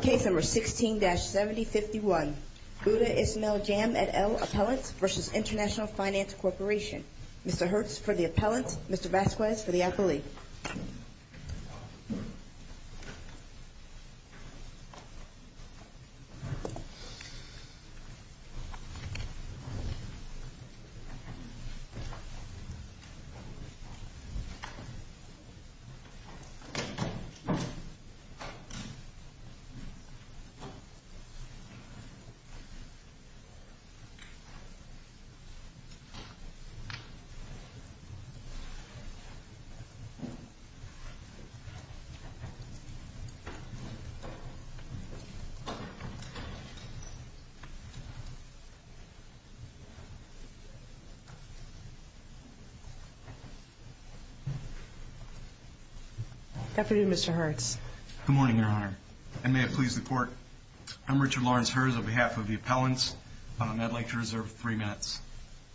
Case No. 16-7051, Budha Ismail Jam et al. Appellant v. International Finance Corporation. Mr. Hertz for the appellant, Mr. Vasquez for the appellee. Thank you, Mr. Chairman. Good morning, Mr. Hertz. Good morning, Your Honor. And may it please the Court, I'm Richard Lawrence Hertz on behalf of the appellants. I'd like to reserve three minutes.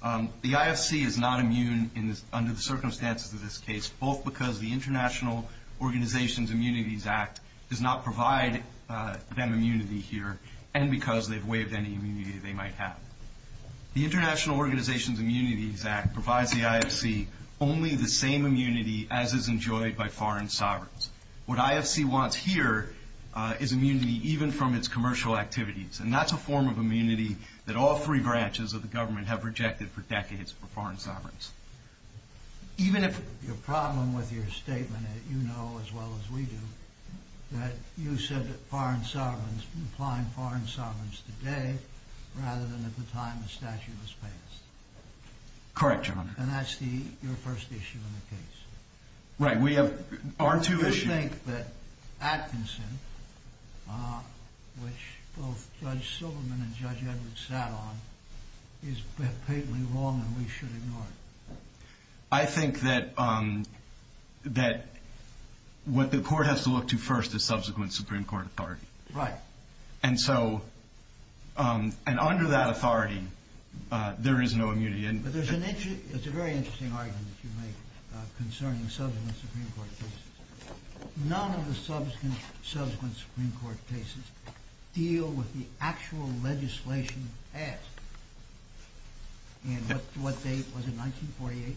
The IFC is not immune under the circumstances of this case, both because the International Organizations Immunities Act does not provide them immunity here, and because they've waived any immunity they might have. The International Organizations Immunities Act provides the IFC only the same immunity as is enjoyed by foreign sovereigns. What IFC wants here is immunity even from its commercial activities, and that's a form of immunity that all three branches of the government have rejected for decades for foreign sovereigns. Your problem with your statement, you know as well as we do, that you said that foreign sovereigns, applying foreign sovereigns today rather than at the time the statute was passed. Correct, Your Honor. And that's your first issue in the case. Right, we have our two issues. I think that Atkinson, which both Judge Silverman and Judge Edwards sat on, is blatantly wrong and we should ignore it. I think that what the Court has to look to first is subsequent Supreme Court authority. Right. And so, and under that authority, there is no immunity. It's a very interesting argument that you make concerning subsequent Supreme Court cases. None of the subsequent Supreme Court cases deal with the actual legislation passed. And what date was it, 1948?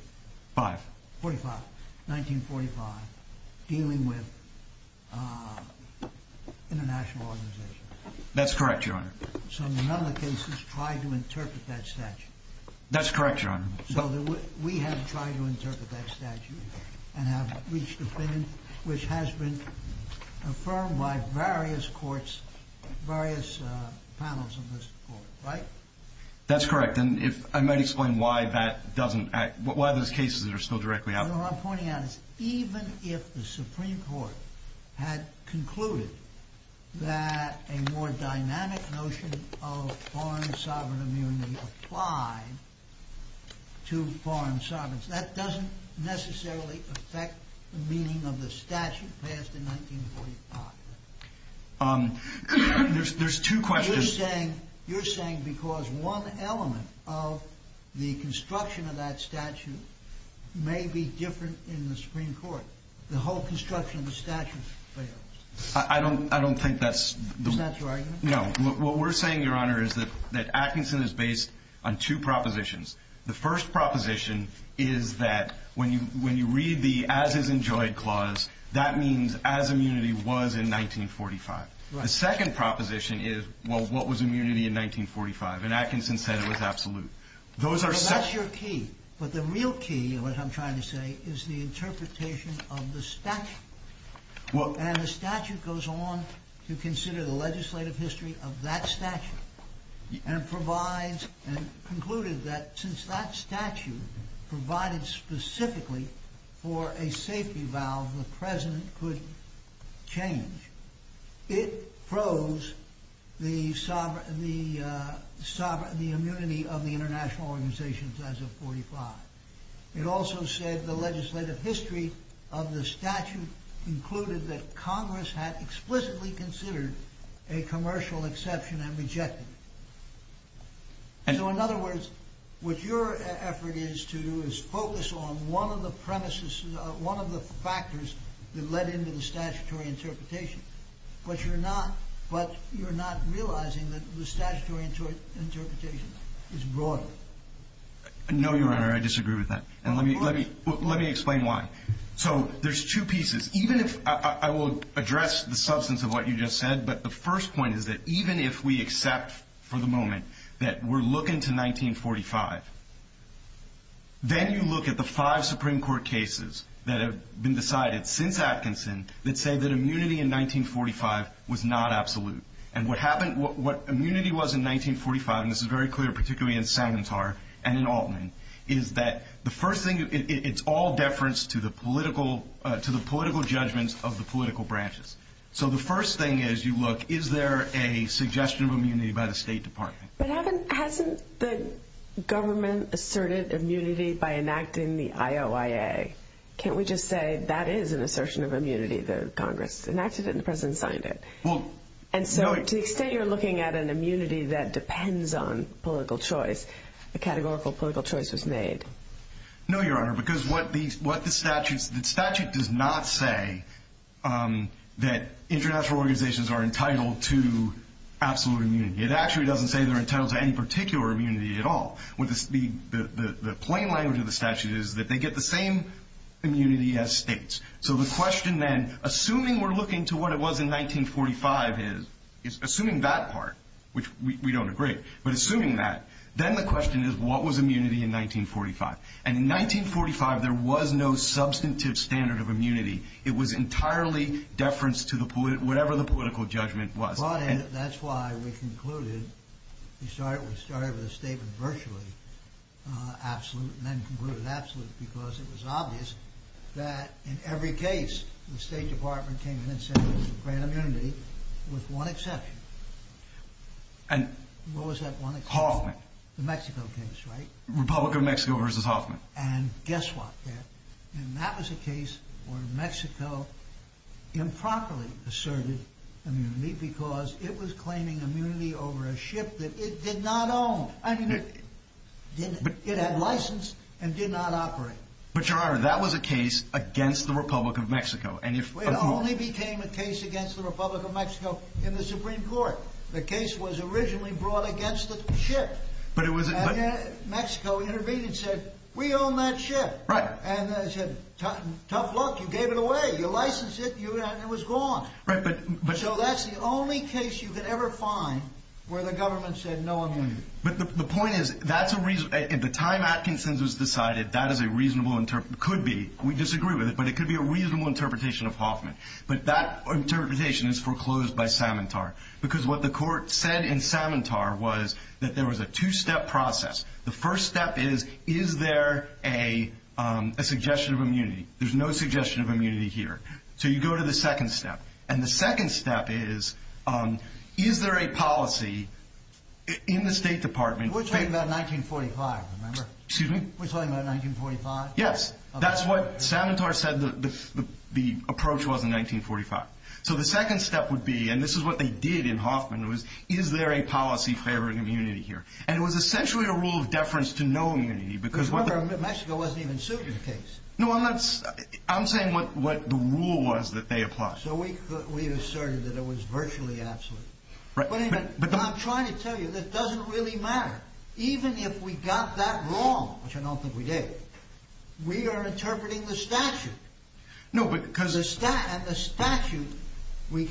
Five. Forty-five. 1945, dealing with international organizations. That's correct, Your Honor. So none of the cases try to interpret that statute. That's correct, Your Honor. So we have tried to interpret that statute and have reached an opinion which has been affirmed by various courts, various panels of this Court, right? That's correct. And I might explain why that doesn't act, why those cases are still directly out there. Your Honor, what I'm pointing out is even if the Supreme Court had concluded that a more dynamic notion of foreign sovereign immunity applied to foreign sovereigns, that doesn't necessarily affect the meaning of the statute passed in 1945. There's two questions. You're saying because one element of the construction of that statute may be different in the Supreme Court. The whole construction of the statute fails. I don't think that's... Is that your argument? No. What we're saying, Your Honor, is that Atkinson is based on two propositions. The first proposition is that when you read the as is enjoyed clause, that means as immunity was in 1945. The second proposition is, well, what was immunity in 1945? And Atkinson said it was absolute. But that's your key. But the real key, what I'm trying to say, is the interpretation of the statute. And the statute goes on to consider the legislative history of that statute. And concluded that since that statute provided specifically for a safety valve the president could change, it froze the immunity of the international organizations as of 1945. It also said the legislative history of the statute included that Congress had explicitly considered a commercial exception and rejected it. So, in other words, what your effort is to do is focus on one of the premises, one of the factors that led into the statutory interpretation. But you're not realizing that the statutory interpretation is broader. No, Your Honor. I disagree with that. And let me explain why. So there's two pieces. I will address the substance of what you just said, but the first point is that even if we accept for the moment that we're looking to 1945, then you look at the five Supreme Court cases that have been decided since Atkinson that say that immunity in 1945 was not absolute. And what happened, what immunity was in 1945, and this is very clear particularly in Sanantar and in Altman, is that the first thing, it's all deference to the political judgments of the political branches. So the first thing is you look, is there a suggestion of immunity by the State Department? But hasn't the government asserted immunity by enacting the IOIA? Can't we just say that is an assertion of immunity that Congress enacted it and the president signed it? And so to the extent you're looking at an immunity that depends on political choice, a categorical political choice was made. No, Your Honor, because what the statute does not say that international organizations are entitled to absolute immunity. It actually doesn't say they're entitled to any particular immunity at all. The plain language of the statute is that they get the same immunity as states. So the question then, assuming we're looking to what it was in 1945 is, assuming that part, which we don't agree, but assuming that, then the question is what was immunity in 1945? And in 1945, there was no substantive standard of immunity. It was entirely deference to whatever the political judgment was. That's why we concluded, we started with a statement virtually absolute and then concluded absolute because it was obvious that in every case, the State Department came in and said it was a great immunity with one exception. And what was that one exception? Hoffman. The Mexico case, right? Republic of Mexico versus Hoffman. And guess what? That was a case where Mexico improperly asserted immunity because it was claiming immunity over a ship that it did not own. I mean, it had license and did not operate. But, Your Honor, that was a case against the Republic of Mexico. It only became a case against the Republic of Mexico in the Supreme Court. The case was originally brought against the ship. And then Mexico intervened and said, we own that ship. And they said, tough luck, you gave it away, you licensed it, and it was gone. So that's the only case you could ever find where the government said no immunity. But the point is, at the time Atkinson's was decided, that is a reasonable, could be, we disagree with it, but it could be a reasonable interpretation of Hoffman. But that interpretation is foreclosed by Samantar. Because what the court said in Samantar was that there was a two-step process. The first step is, is there a suggestion of immunity? There's no suggestion of immunity here. So you go to the second step. And the second step is, is there a policy in the State Department? We're talking about 1945, remember? Excuse me? We're talking about 1945? Yes. That's what Samantar said the approach was in 1945. So the second step would be, and this is what they did in Hoffman, is there a policy favoring immunity here? And it was essentially a rule of deference to no immunity. Because remember, Mexico wasn't even sued in the case. No, I'm saying what the rule was that they applied. So we asserted that it was virtually absolute. But I'm trying to tell you, that doesn't really matter. Even if we got that wrong, which I don't think we did, we are interpreting the statute. No, because the statute, we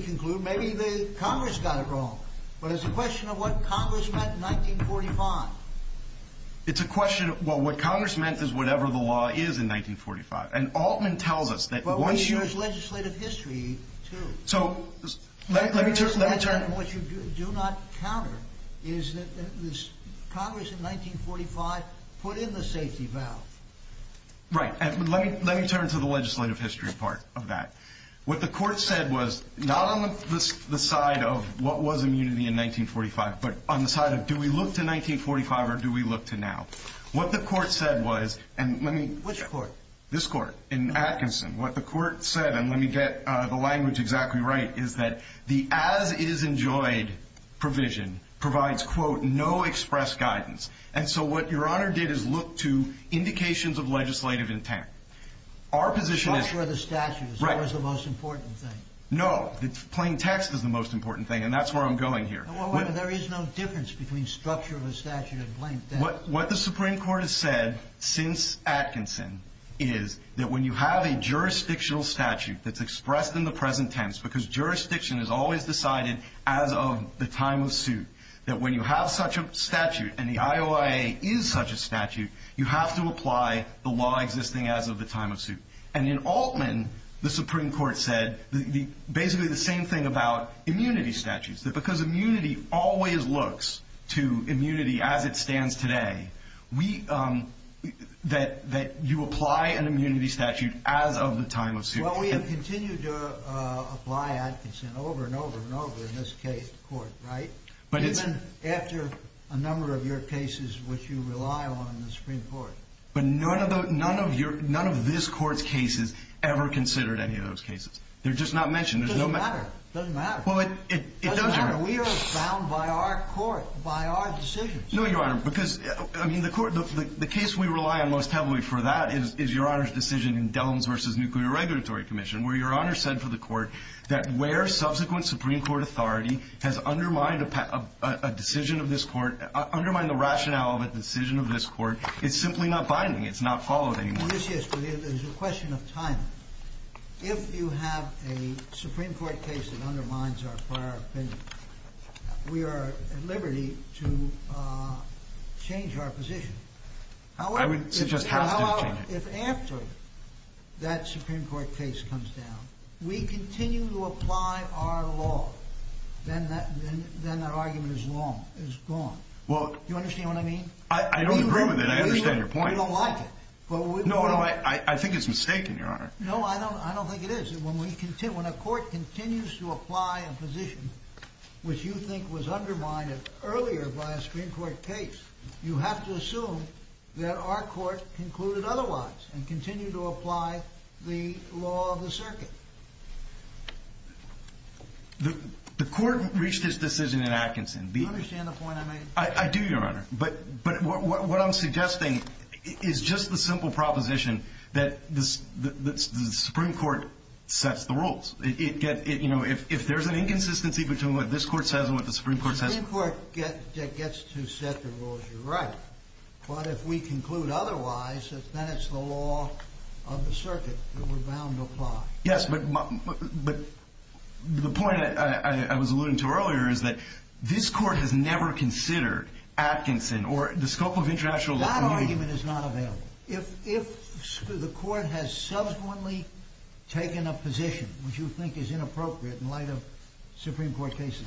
conclude maybe the Congress got it wrong. But it's a question of what Congress meant in 1945. It's a question of, well, what Congress meant is whatever the law is in 1945. And Altman tells us that once you... But we use legislative history, too. So let me turn... What you do not counter is that Congress in 1945 put in the safety valve. Right. Let me turn to the legislative history part of that. What the court said was not on the side of what was immunity in 1945, but on the side of do we look to 1945 or do we look to now? What the court said was, and let me... Which court? This court in Atkinson. What the court said, and let me get the language exactly right, is that the as-is-enjoyed provision provides, quote, no express guidance. And so what Your Honor did is look to indications of legislative intent. Our position is... Structure of the statute is always the most important thing. No. Plain text is the most important thing, and that's where I'm going here. There is no difference between structure of the statute and plain text. What the Supreme Court has said since Atkinson is that when you have a jurisdictional statute that's expressed in the present tense, because jurisdiction is always decided as of the time of suit, that when you have such a statute and the IOIA is such a statute, you have to apply the law existing as of the time of suit. And in Altman, the Supreme Court said basically the same thing about immunity statutes, that because immunity always looks to immunity as it stands today, that you apply an immunity statute as of the time of suit. Well, we have continued to apply Atkinson over and over and over in this court, right? Even after a number of your cases which you rely on in the Supreme Court. But none of this court's cases ever considered any of those cases. They're just not mentioned. It doesn't matter. It doesn't matter. It doesn't matter. We are bound by our court, by our decisions. No, Your Honor, because the case we rely on most heavily for that is Your Honor's decision in Dellums v. Nuclear Regulatory Commission, where Your Honor said for the court that where subsequent Supreme Court authority has undermined a decision of this court, undermined the rationale of a decision of this court, it's simply not binding. It's not followed anymore. Well, yes, yes, but there's a question of time. If you have a Supreme Court case that undermines our prior opinion, we are at liberty to change our position. I would suggest we have to change it. If after that Supreme Court case comes down, we continue to apply our law, then that argument is gone. Do you understand what I mean? I don't agree with it. I understand your point. You don't like it. No, I think it's mistaken, Your Honor. No, I don't think it is. When a court continues to apply a position which you think was undermined earlier by a Supreme Court case, you have to assume that our court concluded otherwise and continue to apply the law of the circuit. The court reached its decision in Atkinson. Do you understand the point I made? I do, Your Honor, but what I'm suggesting is just the simple proposition that the Supreme Court sets the rules. If there's an inconsistency between what this court says and what the Supreme Court says The Supreme Court gets to set the rules. You're right. But if we conclude otherwise, then it's the law of the circuit that we're bound to apply. Yes, but the point I was alluding to earlier is that this court has never considered Atkinson or the scope of international law. That argument is not available. If the court has subsequently taken a position which you think is inappropriate in light of Supreme Court cases,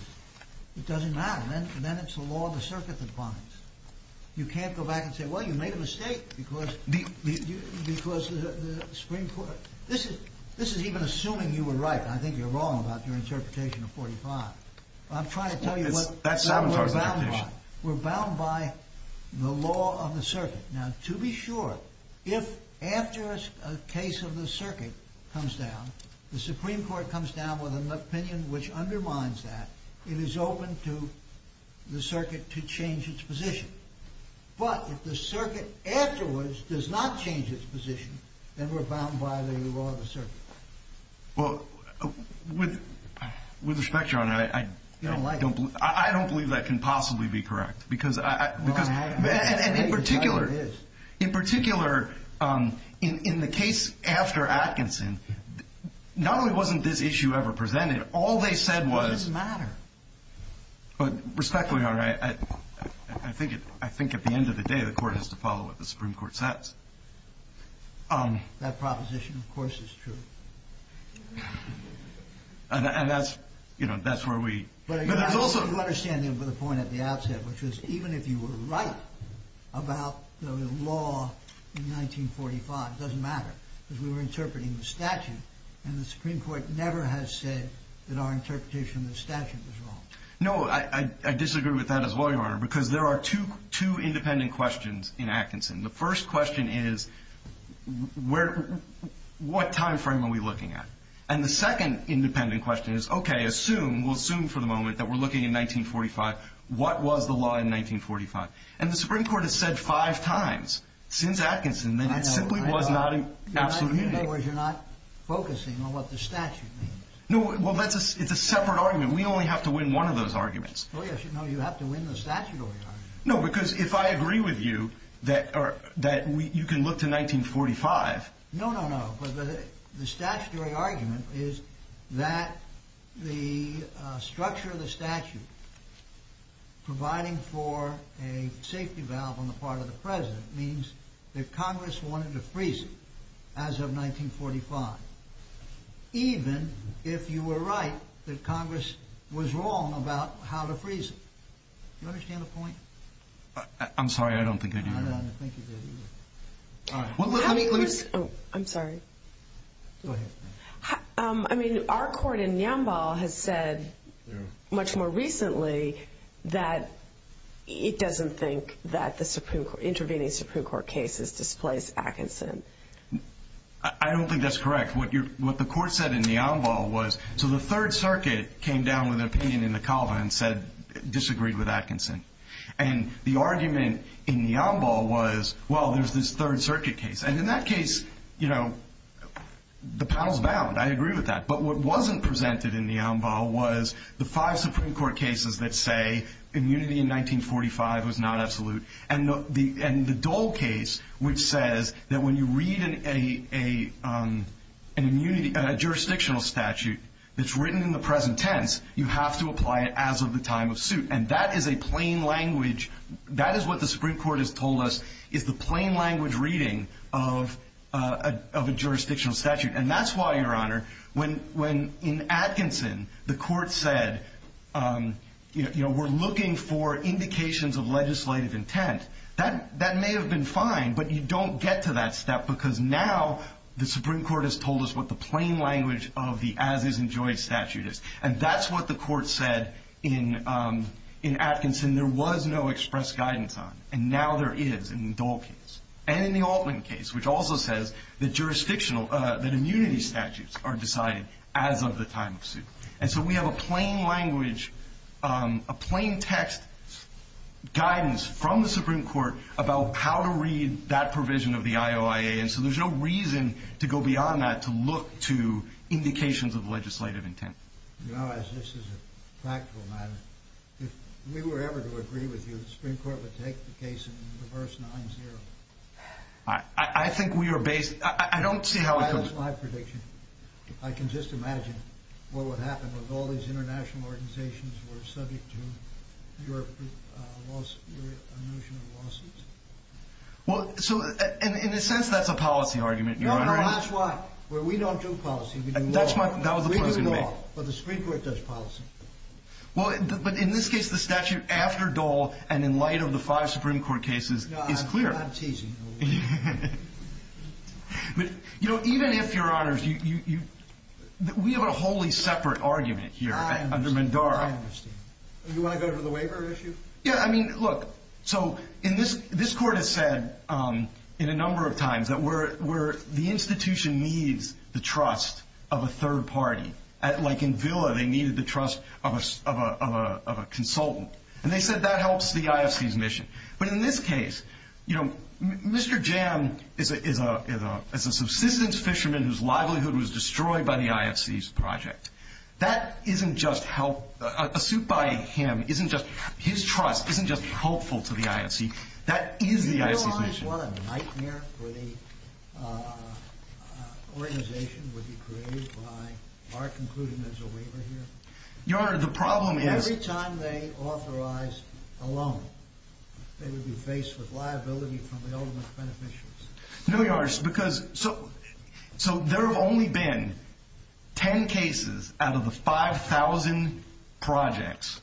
it doesn't matter. Then it's the law of the circuit that binds. You can't go back and say, well, you made a mistake because the Supreme Court... This is even assuming you were right. I think you're wrong about your interpretation of 45. I'm trying to tell you what we're bound by. We're bound by the law of the circuit. Now, to be sure, if after a case of the circuit comes down, the Supreme Court comes down with an opinion which undermines that, it is open to the circuit to change its position. But if the circuit afterwards does not change its position, then we're bound by the law of the circuit. Well, with respect, John, I don't believe that can possibly be correct. In particular, in the case after Atkinson, not only wasn't this issue ever presented, all they said was... It doesn't matter. With respect, Leon, I think at the end of the day, the court has to follow what the Supreme Court says. That proposition, of course, is true. And that's where we... I think you understand the point at the outset, which is even if you were right about the law in 1945, it doesn't matter, because we were interpreting the statute, and the Supreme Court never has said that our interpretation of the statute was wrong. No, I disagree with that as well, Your Honor, because there are two independent questions in Atkinson. The first question is, what time frame are we looking at? And the second independent question is, okay, assume, we'll assume for the moment that we're looking at 1945. What was the law in 1945? And the Supreme Court has said five times since Atkinson that it simply was not an absolute meaning. In other words, you're not focusing on what the statute means. No, well, it's a separate argument. We only have to win one of those arguments. Oh, yes, you have to win the statutory argument. No, because if I agree with you that you can look to 1945... No, no, no. But the statutory argument is that the structure of the statute providing for a safety valve on the part of the president means that Congress wanted to freeze it as of 1945, even if you were right that Congress was wrong about how to freeze it. Do you understand the point? I'm sorry, I don't think I do. I don't think you do either. I'm sorry. Go ahead. I mean, our court in Niambal has said much more recently that it doesn't think that the intervening Supreme Court cases displace Atkinson. I don't think that's correct. What the court said in Niambal was, so the Third Circuit came down with an opinion in the Calva and disagreed with Atkinson. And the argument in Niambal was, well, there's this Third Circuit case. And in that case, you know, the paddle's bound. I agree with that. But what wasn't presented in Niambal was the five Supreme Court cases that say immunity in 1945 was not absolute. And the Dole case, which says that when you read a jurisdictional statute that's written in the present tense, you have to apply it as of the time of suit. And that is a plain language. That is what the Supreme Court has told us is the plain language reading of a jurisdictional statute. And that's why, Your Honor, when in Atkinson the court said, you know, we're looking for indications of legislative intent, that may have been fine, but you don't get to that step because now the Supreme Court has told us what the plain language of the as-is-enjoyed statute is. And that's what the court said in Atkinson. There was no express guidance on it. And now there is in the Dole case and in the Altman case, which also says that immunity statutes are decided as of the time of suit. And so we have a plain language, a plain text guidance from the Supreme Court about how to read that provision of the IOIA. And so there's no reason to go beyond that to look to indications of legislative intent. Your Honor, this is a practical matter. If we were ever to agree with you, the Supreme Court would take the case in reverse 9-0. I think we are based—I don't see how it could— That is my prediction. I can just imagine what would happen if all these international organizations were subject to your notion of lawsuits. Well, so in a sense, that's a policy argument, Your Honor. No, no, that's why. We don't do policy. We do law. We do law. But the Supreme Court does policy. Well, but in this case, the statute after Dole and in light of the five Supreme Court cases is clear. No, I'm not teasing. You know, even if, Your Honors, we have a wholly separate argument here under Mandara. I understand. You want to go to the waiver issue? Yeah, I mean, look. So this Court has said a number of times that the institution needs the trust of a third party. Like in Villa, they needed the trust of a consultant. And they said that helps the IFC's mission. But in this case, you know, Mr. Jam is a subsistence fisherman whose livelihood was destroyed by the IFC's project. That isn't just help. A suit by him isn't just, his trust isn't just helpful to the IFC. That is the IFC's mission. Your Honor, what a nightmare for the organization would be created by our concluding there's a waiver here. Your Honor, the problem is. Every time they authorized a loan, they would be faced with liability from the ultimate beneficials. No, Your Honor. So there have only been 10 cases out of the 5,000 projects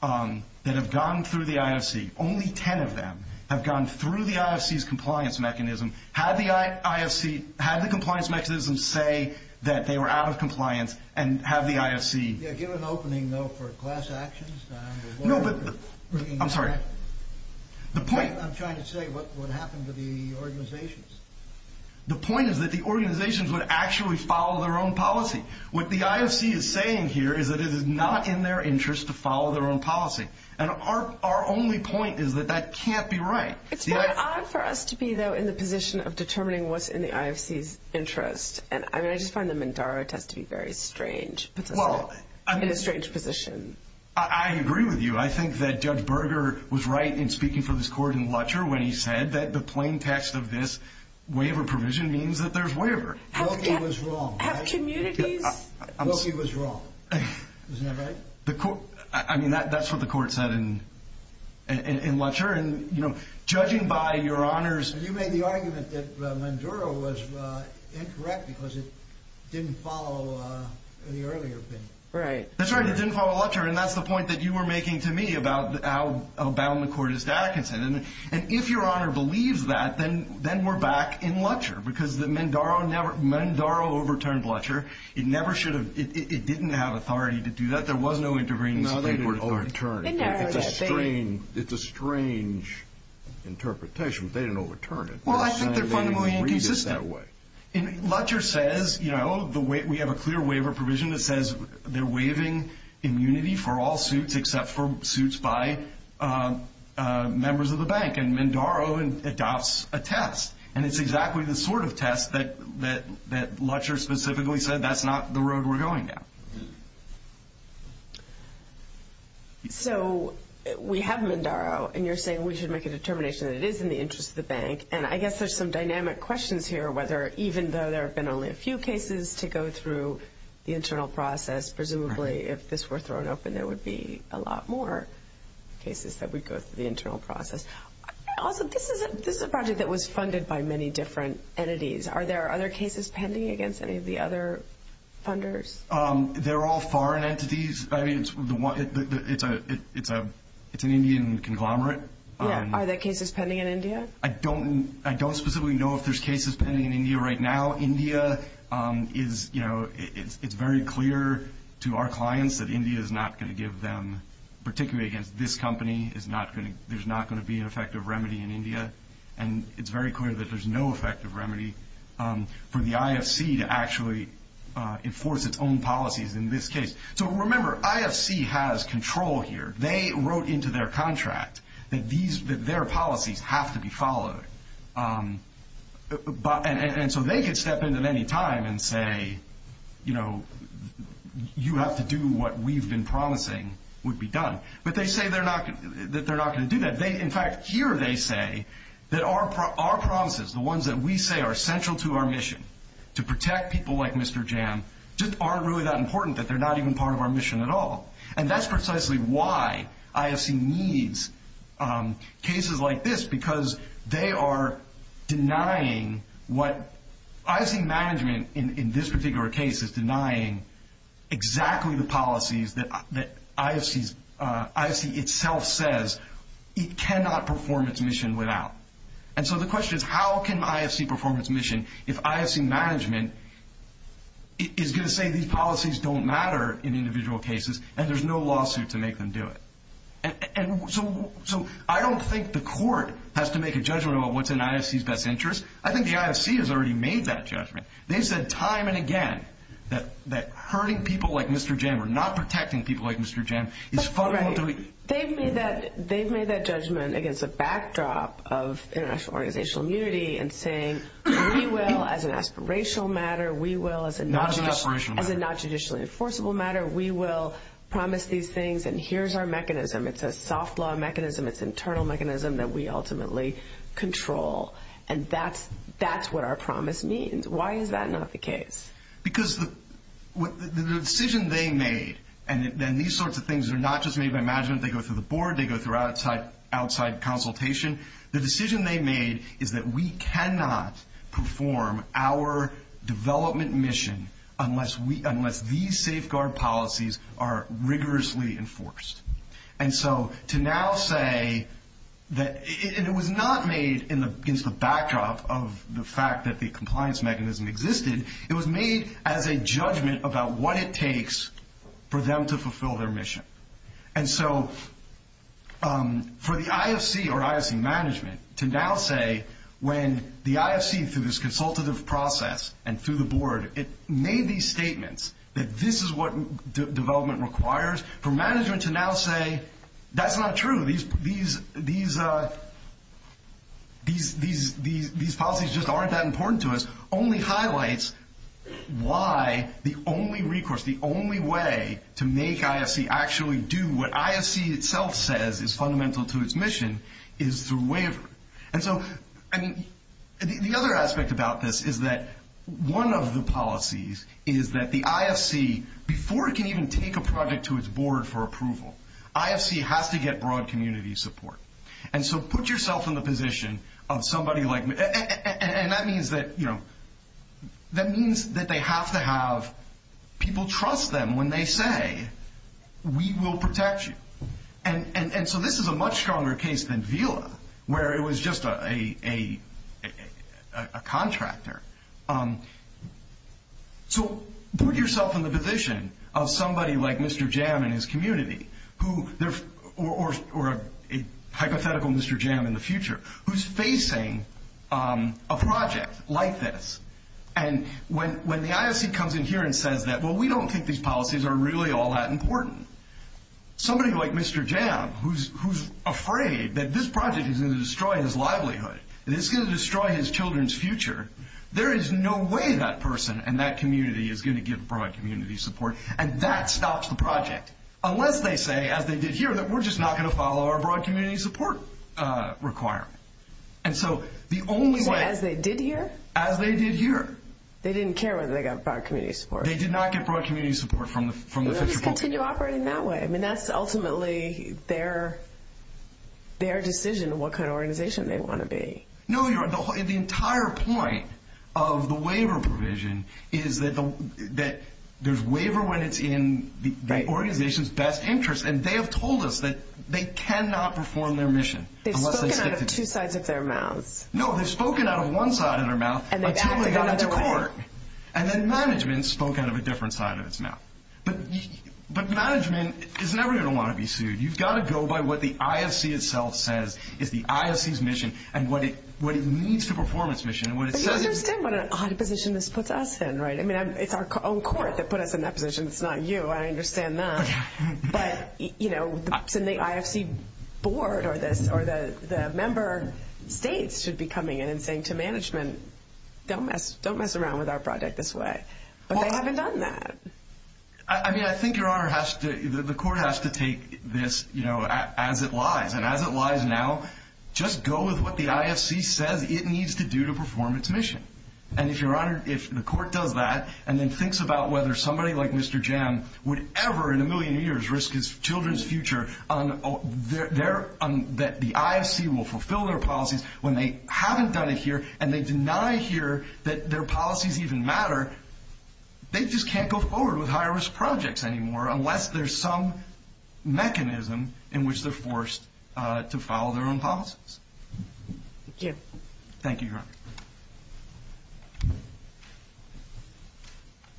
that have gone through the IFC. Only 10 of them have gone through the IFC's compliance mechanism. Had the IFC, had the compliance mechanism say that they were out of compliance and have the IFC. Yeah, give an opening, though, for class actions. No, but. I'm sorry. The point. I'm trying to say what would happen to the organizations. The point is that the organizations would actually follow their own policy. What the IFC is saying here is that it is not in their interest to follow their own policy. And our only point is that that can't be right. It's quite odd for us to be, though, in the position of determining what's in the IFC's interest. I mean, I just find the Mandara test to be very strange. It puts us in a strange position. I agree with you. I think that Judge Berger was right in speaking for this court in Lutcher when he said that the plain text of this waiver provision means that there's waiver. Wilkie was wrong. Have communities. Wilkie was wrong. Isn't that right? I mean, that's what the court said in Lutcher. And, you know, judging by your honors. You made the argument that Mandara was incorrect because it didn't follow the earlier opinion. Right. That's right. It didn't follow Lutcher. And that's the point that you were making to me about how bound the court is to Atkinson. And if your honor believes that, then we're back in Lutcher because Mandara overturned Lutcher. It never should have. It didn't have authority to do that. There was no intervening state authority. It's a strange interpretation. They didn't overturn it. Well, I think they're fundamentally inconsistent. Lutcher says, you know, we have a clear waiver provision that says they're waiving immunity for all suits except for suits by members of the bank. And Mandara adopts a test. And it's exactly the sort of test that Lutcher specifically said, that's not the road we're going down. So we have Mandara. And you're saying we should make a determination that it is in the interest of the bank. And I guess there's some dynamic questions here, whether even though there have been only a few cases to go through the internal process, presumably if this were thrown open, there would be a lot more cases that would go through the internal process. Also, this is a project that was funded by many different entities. Are there other cases pending against any of the other funders? They're all foreign entities. It's an Indian conglomerate. Are there cases pending in India? I don't specifically know if there's cases pending in India right now. India is, you know, it's very clear to our clients that India is not going to give them, particularly against this company, there's not going to be an effective remedy in India. And it's very clear that there's no effective remedy for the IFC to actually enforce its own policies in this case. So remember, IFC has control here. They wrote into their contract that their policies have to be followed. And so they could step in at any time and say, you know, you have to do what we've been promising would be done. But they say that they're not going to do that. In fact, here they say that our promises, the ones that we say are central to our mission to protect people like Mr. Jam, just aren't really that important, that they're not even part of our mission at all. And that's precisely why IFC needs cases like this because they are denying what IFC management in this particular case is denying exactly the policies that IFC itself says it cannot perform its mission without. And so the question is how can IFC perform its mission if IFC management is going to say these policies don't matter in individual cases and there's no lawsuit to make them do it? And so I don't think the court has to make a judgment about what's in IFC's best interest. I think the IFC has already made that judgment. They've said time and again that hurting people like Mr. Jam or not protecting people like Mr. Jam is fundamentally – They've made that judgment against a backdrop of international organizational immunity and saying we will as an aspirational matter, we will as a not judicially enforceable matter, we will promise these things and here's our mechanism. It's a soft law mechanism. It's an internal mechanism that we ultimately control. And that's what our promise means. Why is that not the case? Because the decision they made and these sorts of things are not just made by management. They go through the board. They go through outside consultation. The decision they made is that we cannot perform our development mission unless these safeguard policies are rigorously enforced. And so to now say that – and it was not made against the backdrop of the fact that the compliance mechanism existed. It was made as a judgment about what it takes for them to fulfill their mission. And so for the IFC or IFC management to now say when the IFC through this consultative process and through the board, it made these statements that this is what development requires for management to now say that's not true. These policies just aren't that important to us only highlights why the only recourse, the only way to make IFC actually do what IFC itself says is fundamental to its mission is through waiver. And so, I mean, the other aspect about this is that one of the policies is that the IFC, before it can even take a project to its board for approval, IFC has to get broad community support. And so put yourself in the position of somebody like – and that means that, you know, people trust them when they say, we will protect you. And so this is a much stronger case than VILA where it was just a contractor. So put yourself in the position of somebody like Mr. Jam and his community who – or a hypothetical Mr. Jam in the future who's facing a project like this. And when the IFC comes in here and says that, well, we don't think these policies are really all that important, somebody like Mr. Jam who's afraid that this project is going to destroy his livelihood, that it's going to destroy his children's future, there is no way that person and that community is going to give broad community support. And that stops the project unless they say, as they did here, that we're just not going to follow our broad community support requirement. And so the only way – They didn't care whether they got broad community support. They did not get broad community support from the – They'll just continue operating that way. I mean, that's ultimately their decision on what kind of organization they want to be. No, the entire point of the waiver provision is that there's waiver when it's in the organization's best interest. And they have told us that they cannot perform their mission. They've spoken out of two sides of their mouths. No, they've spoken out of one side of their mouth. Until they got it to court. And then management spoke out of a different side of its mouth. But management is never going to want to be sued. You've got to go by what the IFC itself says is the IFC's mission and what it needs to perform its mission. But you understand what an odd position this puts us in, right? I mean, it's our own court that put us in that position. It's not you. I understand that. But, you know, it's in the IFC board or the member states should be coming in and saying to management, don't mess around with our project this way. But they haven't done that. I mean, I think the court has to take this, you know, as it lies. And as it lies now, just go with what the IFC says it needs to do to perform its mission. And if the court does that and then thinks about whether somebody like Mr. Jim would ever in a million years risk his children's future that the IFC will fulfill their policies when they haven't done it here and they deny here that their policies even matter, they just can't go forward with high-risk projects anymore unless there's some mechanism in which they're forced to follow their own policies. Thank you. Thank you, Your Honor.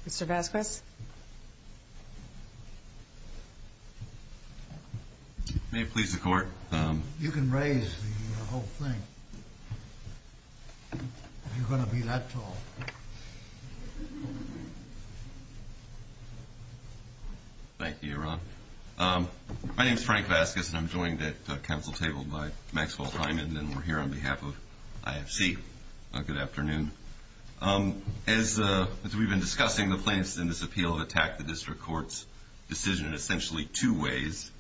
Mr. Vasquez. May it please the Court. You can raise the whole thing if you're going to be that tall. Thank you, Your Honor. My name is Frank Vasquez, and I'm joined at council table by Maxwell Hyman, and we're here on behalf of IFC. Good afternoon. As we've been discussing, the plaintiffs in this appeal have attacked the district court's decision in essentially two ways.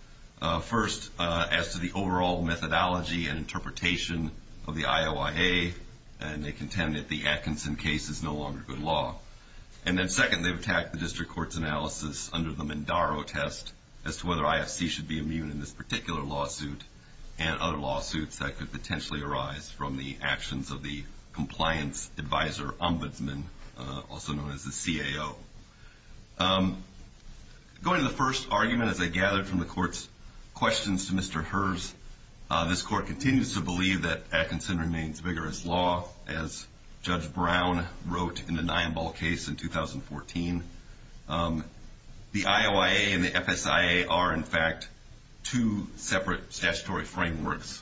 First, as to the overall methodology and interpretation of the IOIA, and they contend that the Atkinson case is no longer good law. And then, second, they've attacked the district court's analysis under the Mindaro test as to whether IFC should be immune in this particular lawsuit and other lawsuits that could potentially arise from the actions of the compliance advisor ombudsman, also known as the CAO. Going to the first argument, as I gathered from the Court's questions to Mr. Herz, this Court continues to believe that Atkinson remains vigorous law, as Judge Brown wrote in the Nyambol case in 2014. The IOIA and the FSIA are, in fact, two separate statutory frameworks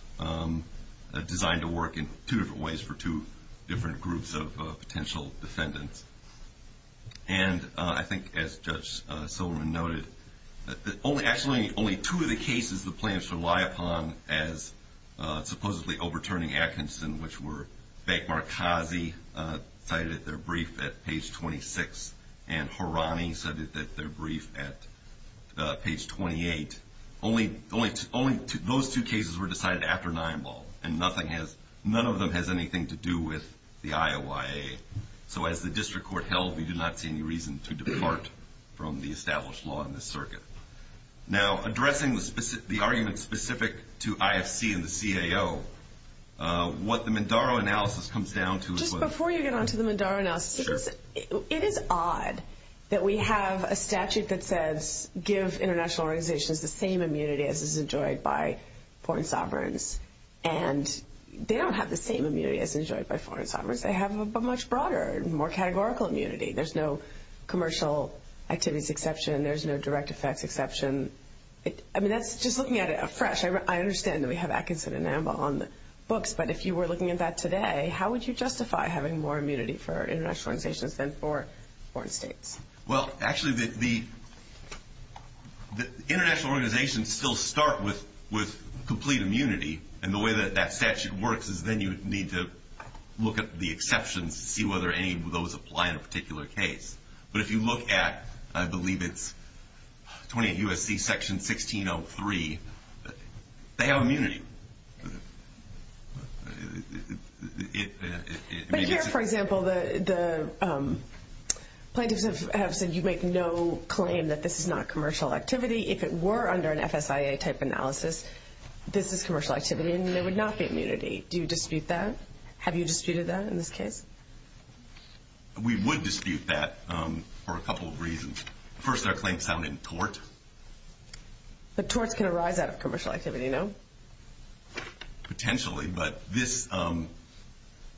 designed to work in two different ways for two different groups of potential defendants. And I think, as Judge Silverman noted, actually only two of the cases the plaintiffs rely upon as supposedly overturning Atkinson, which were Bank Markazi cited at their brief at page 26 and Harani cited at their brief at page 28. Only those two cases were decided after Nyambol, and none of them has anything to do with the IOIA. So as the District Court held, we do not see any reason to depart from the established law in this circuit. Now, addressing the argument specific to IFC and the CAO, what the Mindaro analysis comes down to is whether Just before you get on to the Mindaro analysis, it is odd that we have a statute that says give international organizations the same immunity as is enjoyed by foreign sovereigns. And they don't have the same immunity as is enjoyed by foreign sovereigns. They have a much broader, more categorical immunity. There's no commercial activities exception. There's no direct effects exception. I mean, that's just looking at it afresh. I understand that we have Atkinson and Nyambol on the books, but if you were looking at that today, how would you justify having more immunity for international organizations than for foreign states? Well, actually, the international organizations still start with complete immunity, and the way that that statute works is then you need to look at the exceptions to see whether any of those apply in a particular case. But if you look at, I believe it's 28 U.S.C. Section 1603, they have immunity. But here, for example, the plaintiffs have said you make no claim that this is not commercial activity. If it were under an FSIA-type analysis, this is commercial activity and there would not be immunity. Do you dispute that? Have you disputed that in this case? We would dispute that for a couple of reasons. First, our claim sounded in tort. But torts can arise out of commercial activity, no? Potentially, but this, and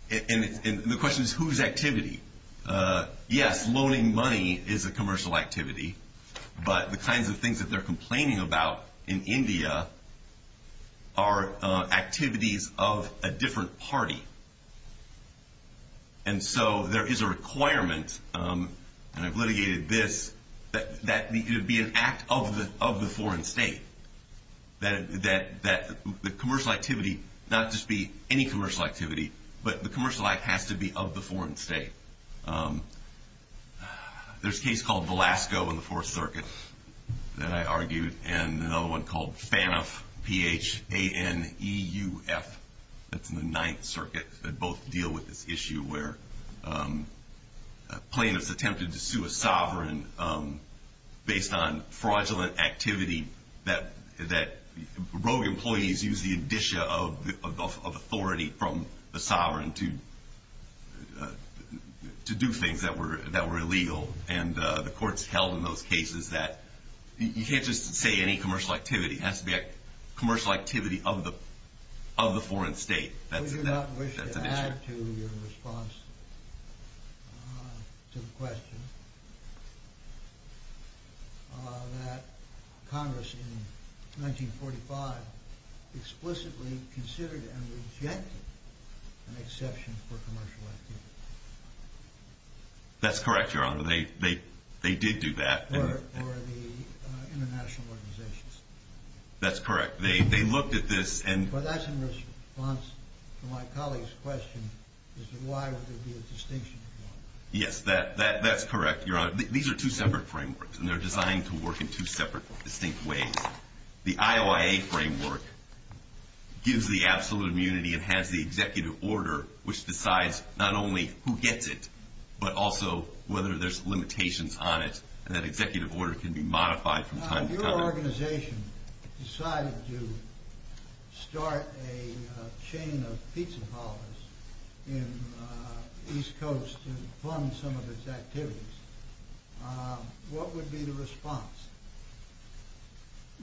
the question is whose activity? Yes, loaning money is a commercial activity, but the kinds of things that they're complaining about in India are activities of a different party. And so there is a requirement, and I've litigated this, that it be an act of the foreign state, that the commercial activity not just be any commercial activity, but the commercial act has to be of the foreign state. There's a case called Velasco in the Fourth Circuit that I argued, and another one called Phaneuf, P-H-A-N-E-U-F. That's in the Ninth Circuit. They both deal with this issue where plaintiffs attempted to sue a sovereign based on fraudulent activity that rogue employees used the indicia of authority from the sovereign to do things that were illegal. And the courts held in those cases that you can't just say any commercial activity. It has to be a commercial activity of the foreign state. I do not wish to add to your response to the question that Congress in 1945 explicitly considered and rejected an exception for commercial activity. That's correct, Your Honor. They did do that. Or the international organizations. That's correct. They looked at this. Well, that's in response to my colleague's question as to why would there be a distinction. Yes, that's correct, Your Honor. These are two separate frameworks, and they're designed to work in two separate distinct ways. The IOIA framework gives the absolute immunity and has the executive order, which decides not only who gets it, but also whether there's limitations on it, and that executive order can be modified from time to time. If your organization decided to start a chain of pizza parlors in the East Coast to fund some of its activities, what would be the response?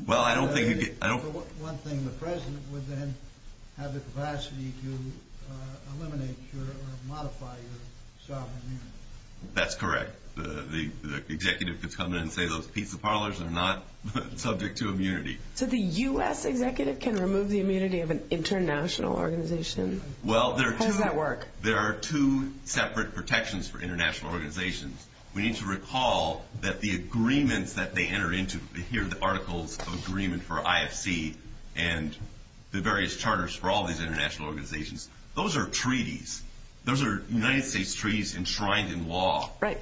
Well, I don't think you'd get – One thing, the president would then have the capacity to eliminate or modify your sovereign immunity. That's correct. The executive could come in and say those pizza parlors are not subject to immunity. So the U.S. executive can remove the immunity of an international organization? How does that work? There are two separate protections for international organizations. We need to recall that the agreements that they enter into – here are the articles of agreement for IFC and the various charters for all these international organizations. Those are treaties. Those are United States treaties enshrined in law. Right.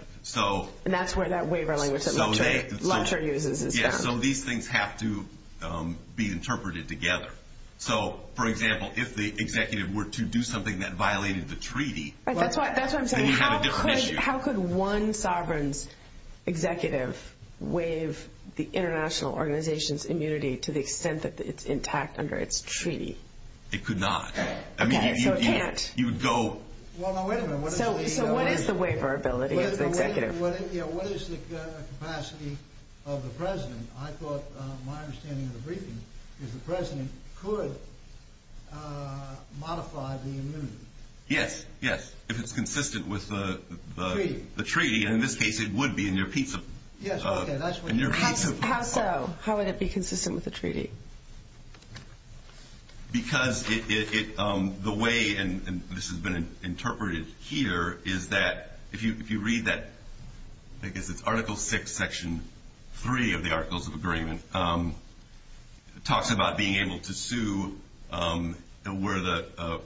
And that's where that waiver language that Lutcher uses is found. Yeah, so these things have to be interpreted together. So, for example, if the executive were to do something that violated the treaty, then you'd have a different issue. That's what I'm saying. How could one sovereign's executive waive the international organization's immunity to the extent that it's intact under its treaty? It could not. Okay, so it can't. I mean, you'd go – Well, now, wait a minute. So what is the waiverability of the executive? What is the capacity of the president? I thought my understanding of the briefing is the president could modify the immunity. Yes, yes, if it's consistent with the treaty. And in this case, it would be in your piece of – Yes, okay, that's what you're saying. How so? How would it be consistent with the treaty? Because the way this has been interpreted here is that if you read that – I guess it's Article 6, Section 3 of the Articles of Agreement. It talks about being able to sue where the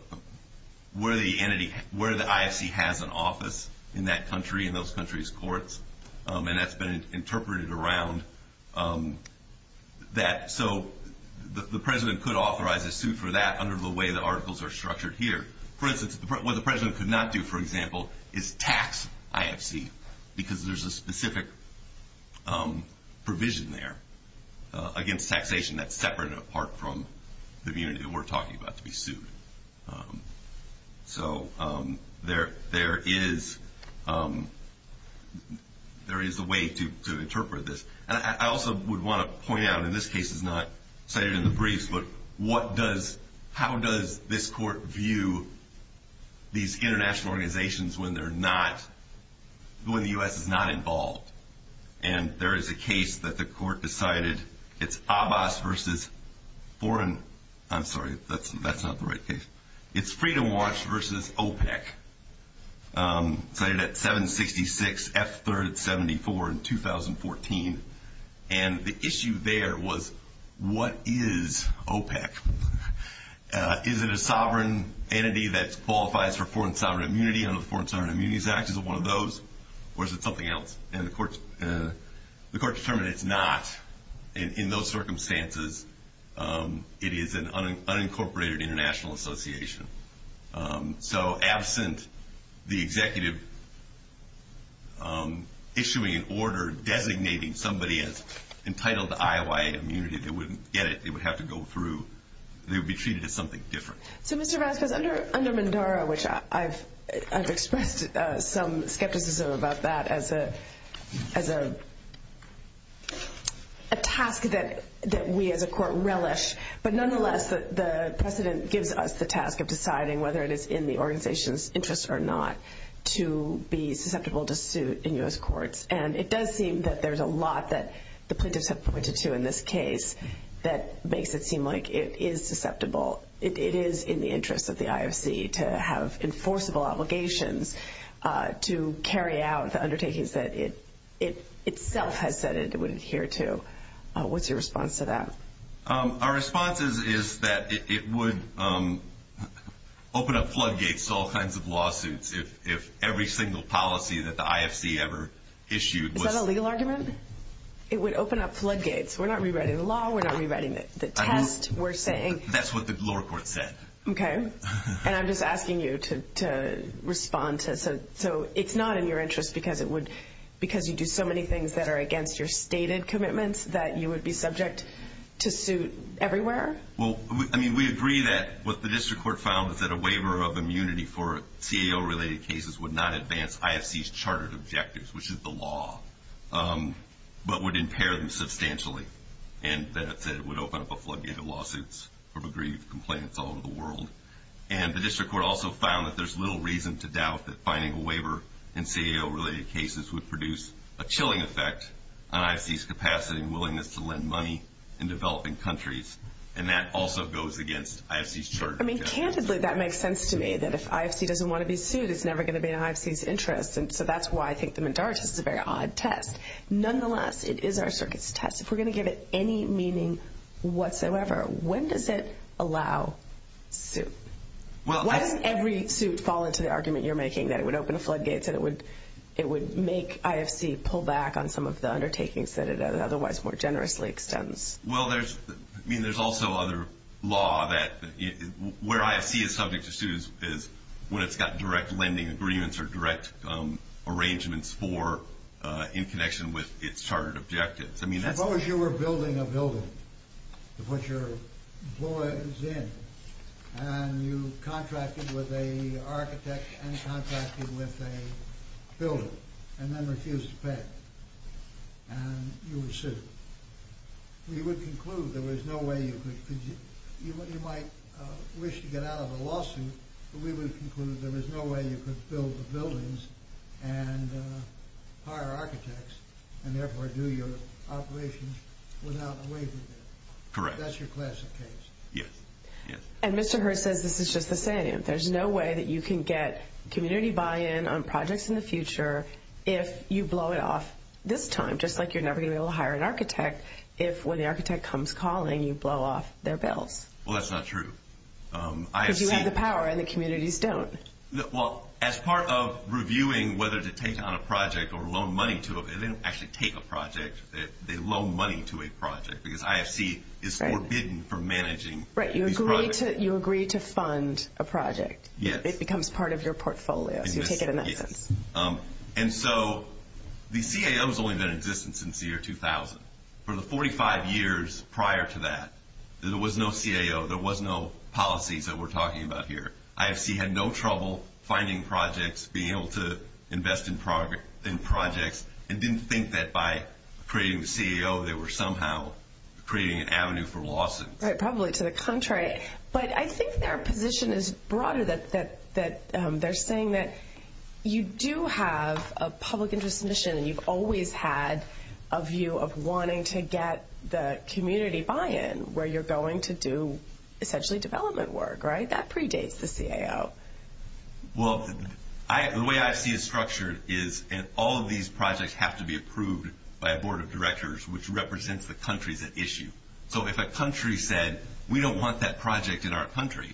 entity – where the IFC has an office in that country, in those countries' courts. And that's been interpreted around that. So the president could authorize a suit for that under the way the articles are structured here. For instance, what the president could not do, for example, is tax IFC because there's a specific provision there against taxation that's separate and apart from the immunity that we're talking about to be sued. So there is a way to interpret this. I also would want to point out, and this case is not cited in the briefs, but what does – how does this court view these international organizations when they're not – when the U.S. is not involved? And there is a case that the court decided it's Abbas versus foreign – I'm sorry, that's not the right case. It's Freedom Watch versus OPEC, cited at 766 F3rd 74 in 2014. And the issue there was what is OPEC? Is it a sovereign entity that qualifies for foreign sovereign immunity? I know the Foreign Sovereign Immunities Act is one of those. Or is it something else? And the court determined it's not in those circumstances. It is an unincorporated international association. So absent the executive issuing an order designating somebody as entitled to IOI immunity, they wouldn't get it. They would have to go through – they would be treated as something different. So, Mr. Vasquez, under Mandara, which I've expressed some skepticism about that as a task that we as a court relish. But nonetheless, the precedent gives us the task of deciding whether it is in the organization's interest or not to be susceptible to suit in U.S. courts. And it does seem that there's a lot that the plaintiffs have pointed to in this case that makes it seem like it is susceptible. It is in the interest of the IFC to have enforceable obligations to carry out the undertakings that it itself has said it would adhere to. What's your response to that? Our response is that it would open up floodgates to all kinds of lawsuits if every single policy that the IFC ever issued was – Is that a legal argument? It would open up floodgates. We're not rewriting the law. We're not rewriting the test. We're saying – That's what the lower court said. Okay. And I'm just asking you to respond. So it's not in your interest because you do so many things that are against your stated commitments that you would be subject to suit everywhere? Well, I mean, we agree that what the district court found is that a waiver of immunity for CAO-related cases would not advance IFC's chartered objectives, which is the law, but would impair them substantially. And that it would open up a floodgate of lawsuits from aggrieved complaints all over the world. And the district court also found that there's little reason to doubt that finding a waiver in CAO-related cases would produce a chilling effect on IFC's capacity and willingness to lend money in developing countries. And that also goes against IFC's chartered objectives. I mean, candidly, that makes sense to me, that if IFC doesn't want to be sued, it's never going to be in IFC's interest. And so that's why I think the Medard test is a very odd test. Nonetheless, it is our circuit's test. If we're going to give it any meaning whatsoever, when does it allow suit? Why doesn't every suit fall into the argument you're making that it would open a floodgate, that it would make IFC pull back on some of the undertakings that it otherwise more generously extends? Well, I mean, there's also other law that where IFC is subject to suit is when it's got direct lending agreements or direct arrangements in connection with its chartered objectives. Suppose you were building a building to put your boys in, and you contracted with an architect and contracted with a builder and then refused to pay, and you were sued. We would conclude there was no way you could... You might wish to get out of a lawsuit, but we would conclude there was no way you could build buildings and hire architects and therefore do your operations without waiving them. Correct. That's your classic case. Yes. And Mr. Hurst says this is just the same. There's no way that you can get community buy-in on projects in the future if you blow it off this time, just like you're never going to be able to hire an architect if when the architect comes calling, you blow off their bills. Well, that's not true. Because you have the power and the communities don't. Well, as part of reviewing whether to take on a project or loan money to it, they don't actually take a project, they loan money to a project because IFC is forbidden from managing these projects. Right. You agree to fund a project. Yes. It becomes part of your portfolio, so you take it in that sense. Yes. And so the CAO has only been in existence since the year 2000. For the 45 years prior to that, there was no CAO, there was no policies that we're talking about here. IFC had no trouble finding projects, being able to invest in projects, and didn't think that by creating a CAO they were somehow creating an avenue for lawsuits. Right. Probably to the contrary. But I think their position is broader, that they're saying that you do have a public interest mission and you've always had a view of wanting to get the community buy-in where you're going to do essentially development work, right? That predates the CAO. Well, the way IFC is structured is all of these projects have to be approved by a board of directors which represents the countries at issue. So if a country said, we don't want that project in our country,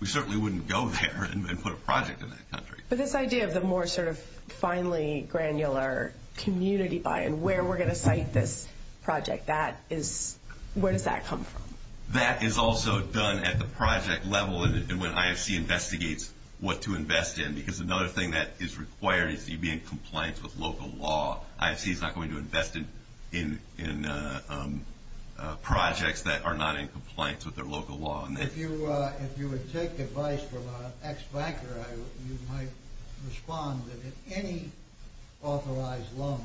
we certainly wouldn't go there and put a project in that country. But this idea of the more sort of finely granular community buy-in, where we're going to cite this project, where does that come from? That is also done at the project level and when IFC investigates what to invest in. Because another thing that is required is that you be in compliance with local law. IFC is not going to invest in projects that are not in compliance with their local law. If you would take advice from an ex-banker, you might respond that if any authorized loan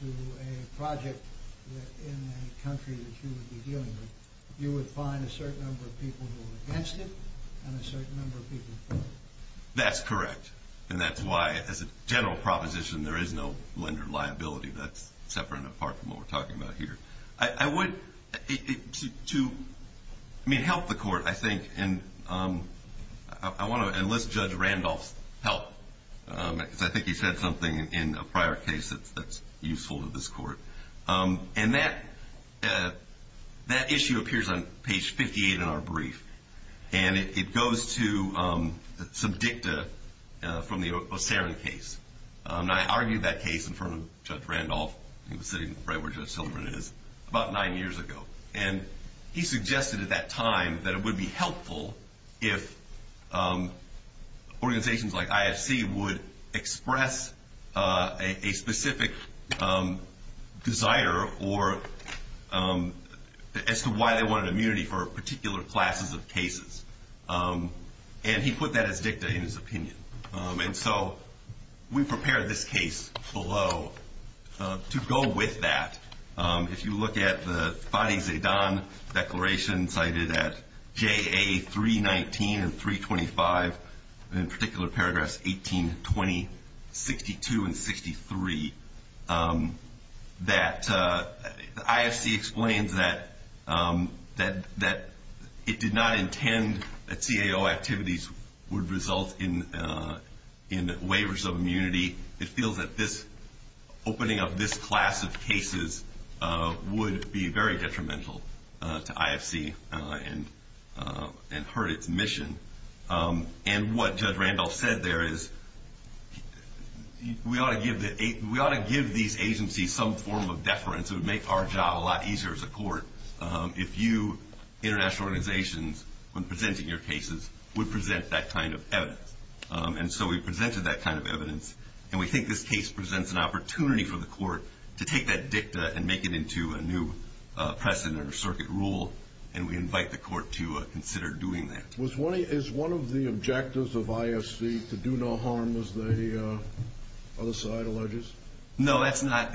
to a project in a country that you would be dealing with, you would find a certain number of people who are against it and a certain number of people who are for it. That's correct. And that's why, as a general proposition, there is no lender liability. That's separate and apart from what we're talking about here. I would, to, I mean, help the court, I think, and I want to enlist Judge Randolph's help. Because I think he said something in a prior case that's useful to this court. And that issue appears on page 58 in our brief. And it goes to some dicta from the O'Sara case. And I argued that case in front of Judge Randolph. He was sitting right where Judge Silverman is, about nine years ago. And he suggested at that time that it would be helpful if organizations like IFC would express a specific desire or as to why they wanted immunity for particular classes of cases. And he put that as dicta in his opinion. And so we prepared this case below to go with that. If you look at the Fadi Zaidan declaration cited at JA 319 and 325, in particular paragraphs 18, 20, 62, and 63, that IFC explains that it did not intend that CAO activities would result in waivers of immunity. It feels that this opening up this class of cases would be very detrimental to IFC and hurt its mission. And what Judge Randolph said there is we ought to give these agencies some form of deference. It would make our job a lot easier as a court if you, international organizations, when presenting your cases, would present that kind of evidence. And so we presented that kind of evidence. And we think this case presents an opportunity for the court to take that dicta and make it into a new precedent or circuit rule. And we invite the court to consider doing that. Is one of the objectives of IFC to do no harm, as the other side alleges? No, that's not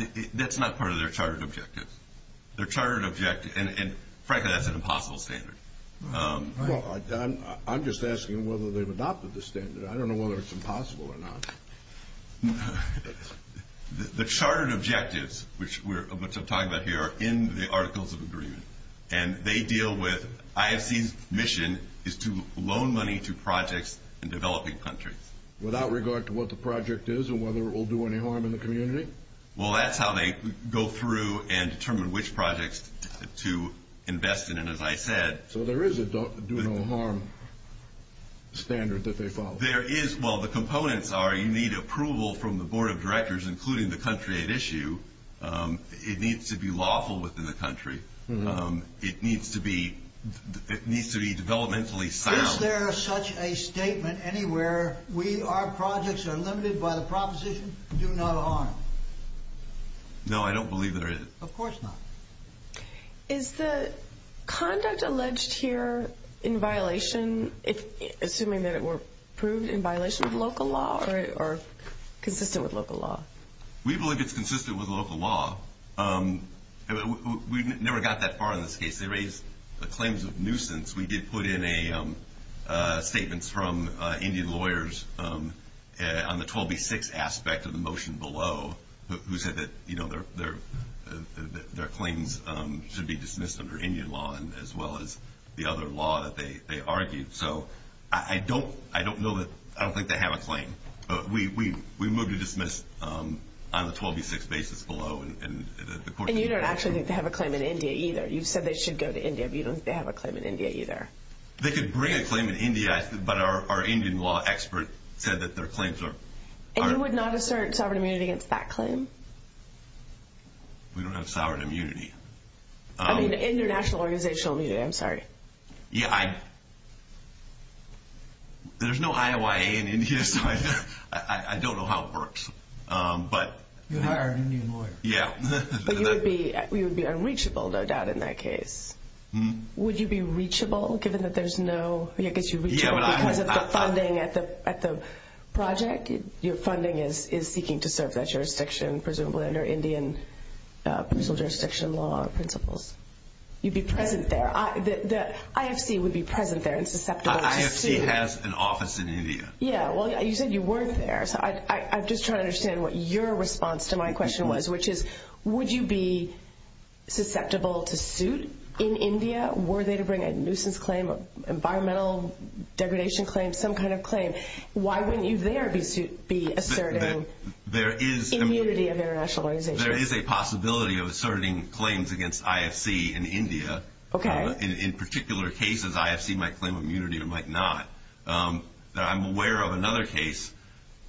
part of their chartered objective. And frankly, that's an impossible standard. Well, I'm just asking whether they've adopted the standard. I don't know whether it's impossible or not. The chartered objectives, which I'm talking about here, are in the Articles of Agreement. And they deal with IFC's mission is to loan money to projects in developing countries. Without regard to what the project is and whether it will do any harm in the community? Well, that's how they go through and determine which projects to invest in. And as I said. So there is a do no harm standard that they follow. There is. Well, the components are you need approval from the Board of Directors, including the country at issue. It needs to be lawful within the country. It needs to be developmentally sound. Is there such a statement anywhere? Our projects are limited by the proposition do not harm. No, I don't believe there is. Of course not. Is the conduct alleged here in violation, assuming that it were proved in violation of local law or consistent with local law? We believe it's consistent with local law. We never got that far in this case. They raised the claims of nuisance. We did put in statements from Indian lawyers on the 12B6 aspect of the motion below, who said that their claims should be dismissed under Indian law as well as the other law that they argued. So I don't think they have a claim. We moved to dismiss on the 12B6 basis below. And you don't actually think they have a claim in India either? You've said they should go to India, but you don't think they have a claim in India either? They could bring a claim in India, but our Indian law expert said that their claims are… And you would not assert sovereign immunity against that claim? We don't have sovereign immunity. I mean international organizational immunity, I'm sorry. Yeah, I… There's no IOIA in India, so I don't know how it works, but… You hired an Indian lawyer. Yeah. But you would be unreachable, no doubt, in that case. Would you be reachable, given that there's no… I guess you'd be reachable because of the funding at the project? Your funding is seeking to serve that jurisdiction, presumably under Indian prison jurisdiction law principles. You'd be present there. The IFC would be present there and susceptible to sue. The IFC has an office in India. Yeah, well, you said you weren't there. I'm just trying to understand what your response to my question was, which is, would you be susceptible to suit in India? Were they to bring a nuisance claim, environmental degradation claim, some kind of claim? Why wouldn't you there be asserting immunity of international organization? There is a possibility of asserting claims against IFC in India. Okay. In particular cases, IFC might claim immunity or might not. I'm aware of another case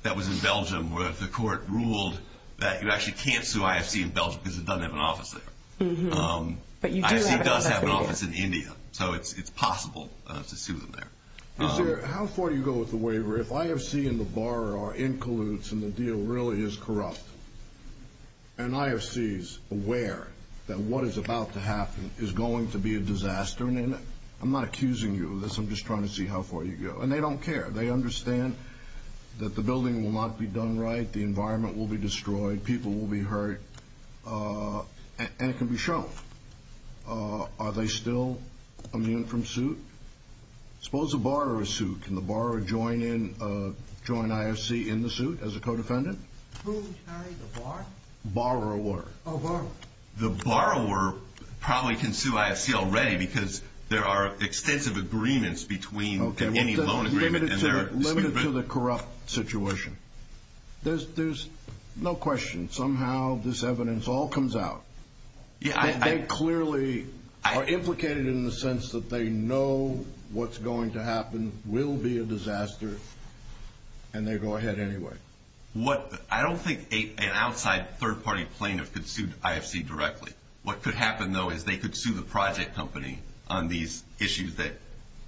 that was in Belgium where the court ruled that you actually can't sue IFC in Belgium because it doesn't have an office there. But you do have an office in India. IFC does have an office in India, so it's possible to sue them there. How far do you go with the waiver? If IFC and the borrower are in colludes and the deal really is corrupt, and IFC is aware that what is about to happen is going to be a disaster, I'm not accusing you of this. I'm just trying to see how far you go. And they don't care. They understand that the building will not be done right, the environment will be destroyed, people will be hurt, and it can be shown. Are they still immune from suit? Suppose a borrower is sued. Can the borrower join in, join IFC in the suit as a co-defendant? Who? Sorry, the borrower? Borrower. Oh, borrower. The borrower probably can sue IFC already because there are extensive agreements between any loan agreement and their suit. Limited to the corrupt situation. There's no question. Somehow this evidence all comes out. They clearly are implicated in the sense that they know what's going to happen, will be a disaster, and they go ahead anyway. I don't think an outside third-party plaintiff could sue IFC directly. What could happen, though, is they could sue the project company on these issues that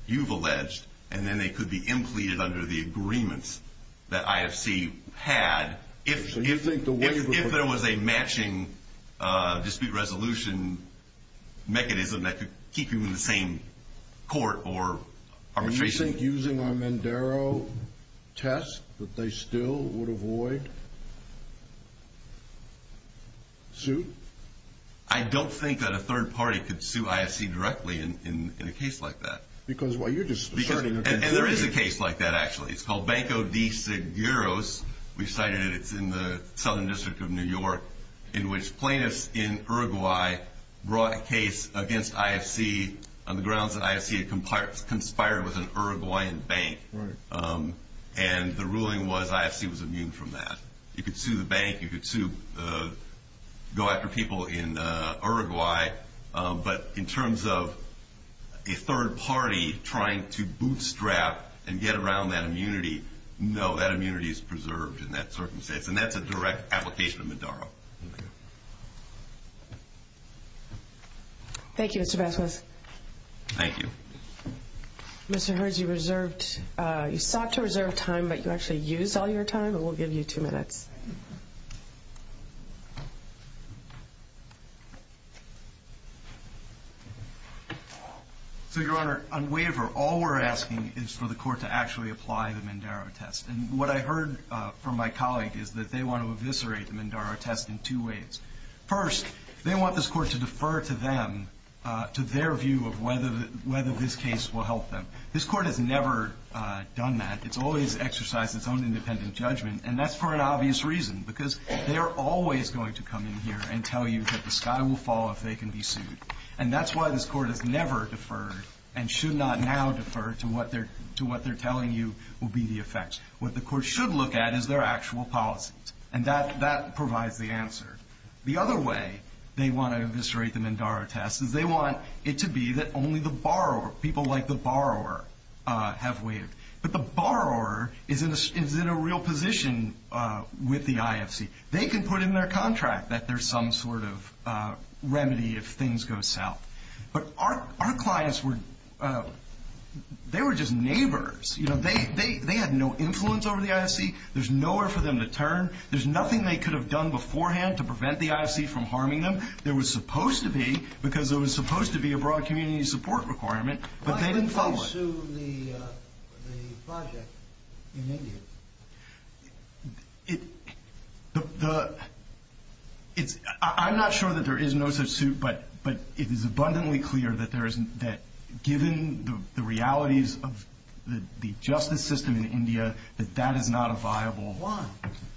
you've alleged, and then they could be implicated under the agreements that IFC had if there was a matching dispute resolution mechanism that could keep them in the same court or arbitration. Do you think using our Mandaro test that they still would avoid suit? I don't think that a third-party could sue IFC directly in a case like that. Because, well, you're just asserting— And there is a case like that, actually. It's called Banco de Seguros. We've cited it. It's in the Southern District of New York, in which plaintiffs in Uruguay brought a case against IFC on the grounds that IFC had conspired with an Uruguayan bank, and the ruling was IFC was immune from that. You could sue the bank. You could sue—go after people in Uruguay. But in terms of a third party trying to bootstrap and get around that immunity, no, that immunity is preserved in that circumstance, and that's a direct application of Mandaro. Okay. Thank you, Mr. Besswith. Thank you. Mr. Hurds, you sought to reserve time, but you actually used all your time. We'll give you two minutes. So, Your Honor, on waiver, all we're asking is for the court to actually apply the Mandaro test. And what I heard from my colleague is that they want to eviscerate the Mandaro test in two ways. First, they want this court to defer to them, to their view of whether this case will help them. This court has never done that. It's always exercised its own independent judgment, and that's for an obvious reason, because they are always going to come in here and tell you that the sky will fall if they can be sued. And that's why this court has never deferred and should not now defer to what they're telling you will be the effects. What the court should look at is their actual policies, and that provides the answer. The other way they want to eviscerate the Mandaro test is they want it to be that only the borrower, people like the borrower, have waived. But the borrower is in a real position with the IFC. They can put in their contract that there's some sort of remedy if things go south. But our clients were just neighbors. They had no influence over the IFC. There's nowhere for them to turn. There's nothing they could have done beforehand to prevent the IFC from harming them. There was supposed to be, because there was supposed to be a broad community support requirement, but they didn't follow it. What about to the project in India? I'm not sure that there is no such suit, but it is abundantly clear that given the realities of the justice system in India, that that is not a viable. Why?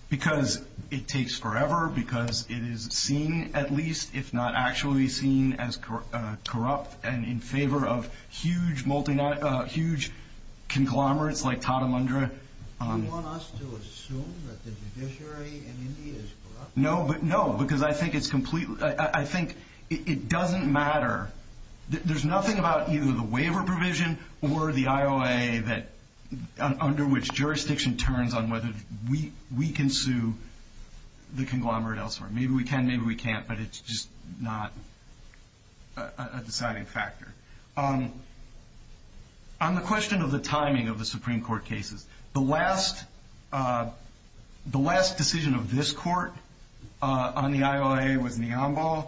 Because it takes forever, because it is seen at least, if not actually seen, as corrupt and in favor of huge conglomerates like Tatamundra. Do you want us to assume that the judiciary in India is corrupt? No, because I think it doesn't matter. There's nothing about either the waiver provision or the IOA under which jurisdiction turns on whether we can sue the conglomerate elsewhere. Maybe we can, maybe we can't, but it's just not a deciding factor. On the question of the timing of the Supreme Court cases, the last decision of this court on the IOA was Niambal.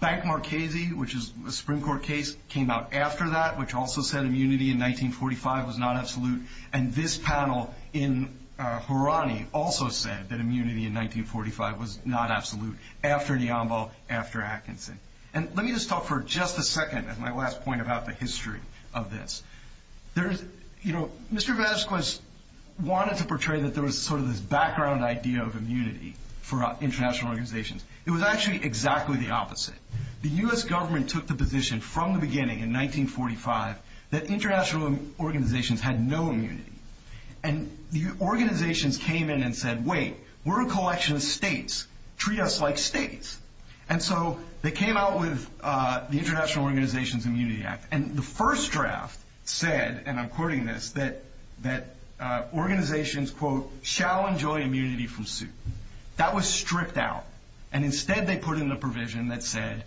Bank Marchesi, which is a Supreme Court case, came out after that, which also said immunity in 1945 was not absolute. And this panel in Harani also said that immunity in 1945 was not absolute, after Niambal, after Atkinson. And let me just talk for just a second at my last point about the history of this. There's, you know, Mr. Vasquez wanted to portray that there was sort of this background idea of immunity for international organizations. It was actually exactly the opposite. The U.S. government took the position from the beginning in 1945 that international organizations had no immunity. And the organizations came in and said, wait, we're a collection of states. Treat us like states. And so they came out with the International Organizations Immunity Act. And the first draft said, and I'm quoting this, that organizations, quote, shall enjoy immunity from suit. That was stripped out. And instead they put in the provision that said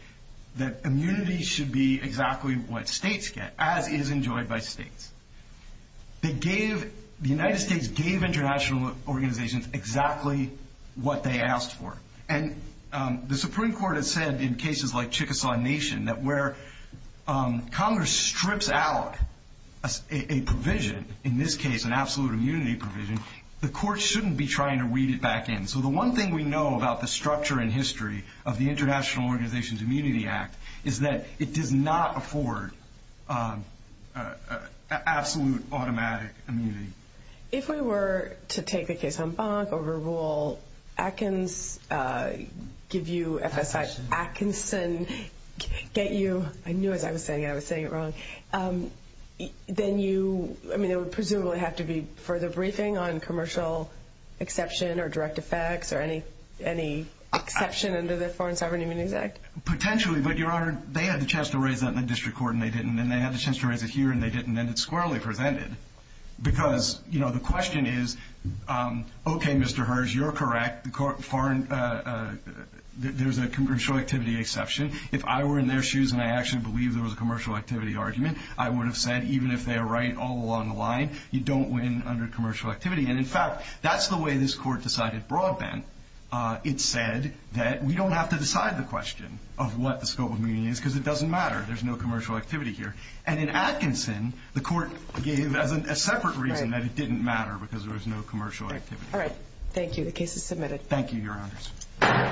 that immunity should be exactly what states get, as is enjoyed by states. They gave, the United States gave international organizations exactly what they asked for. And the Supreme Court has said in cases like Chickasaw Nation that where Congress strips out a provision, in this case an absolute immunity provision, the court shouldn't be trying to read it back in. So the one thing we know about the structure and history of the International Organizations Immunity Act is that it does not afford absolute automatic immunity. If we were to take the case of Humbug, overrule Atkins, give you FSI, Atkinson, get you, I knew as I was saying it, I was saying it wrong, then you, I mean, it would presumably have to be further briefing on commercial exception or direct effects or any exception under the Foreign Sovereign Immunities Act. Potentially, but, Your Honor, they had the chance to raise that in the district court and they didn't, and they had the chance to raise it here and they didn't, and it's squarely presented. Because, you know, the question is, okay, Mr. Hirsch, you're correct, there's a commercial activity exception. If I were in their shoes and I actually believed there was a commercial activity argument, I would have said even if they are right all along the line, you don't win under commercial activity. And, in fact, that's the way this court decided broadband. It said that we don't have to decide the question of what the scope of immunity is because it doesn't matter. There's no commercial activity here. And in Atkinson, the court gave a separate reason that it didn't matter because there was no commercial activity. All right. Thank you. The case is submitted. Thank you, Your Honors.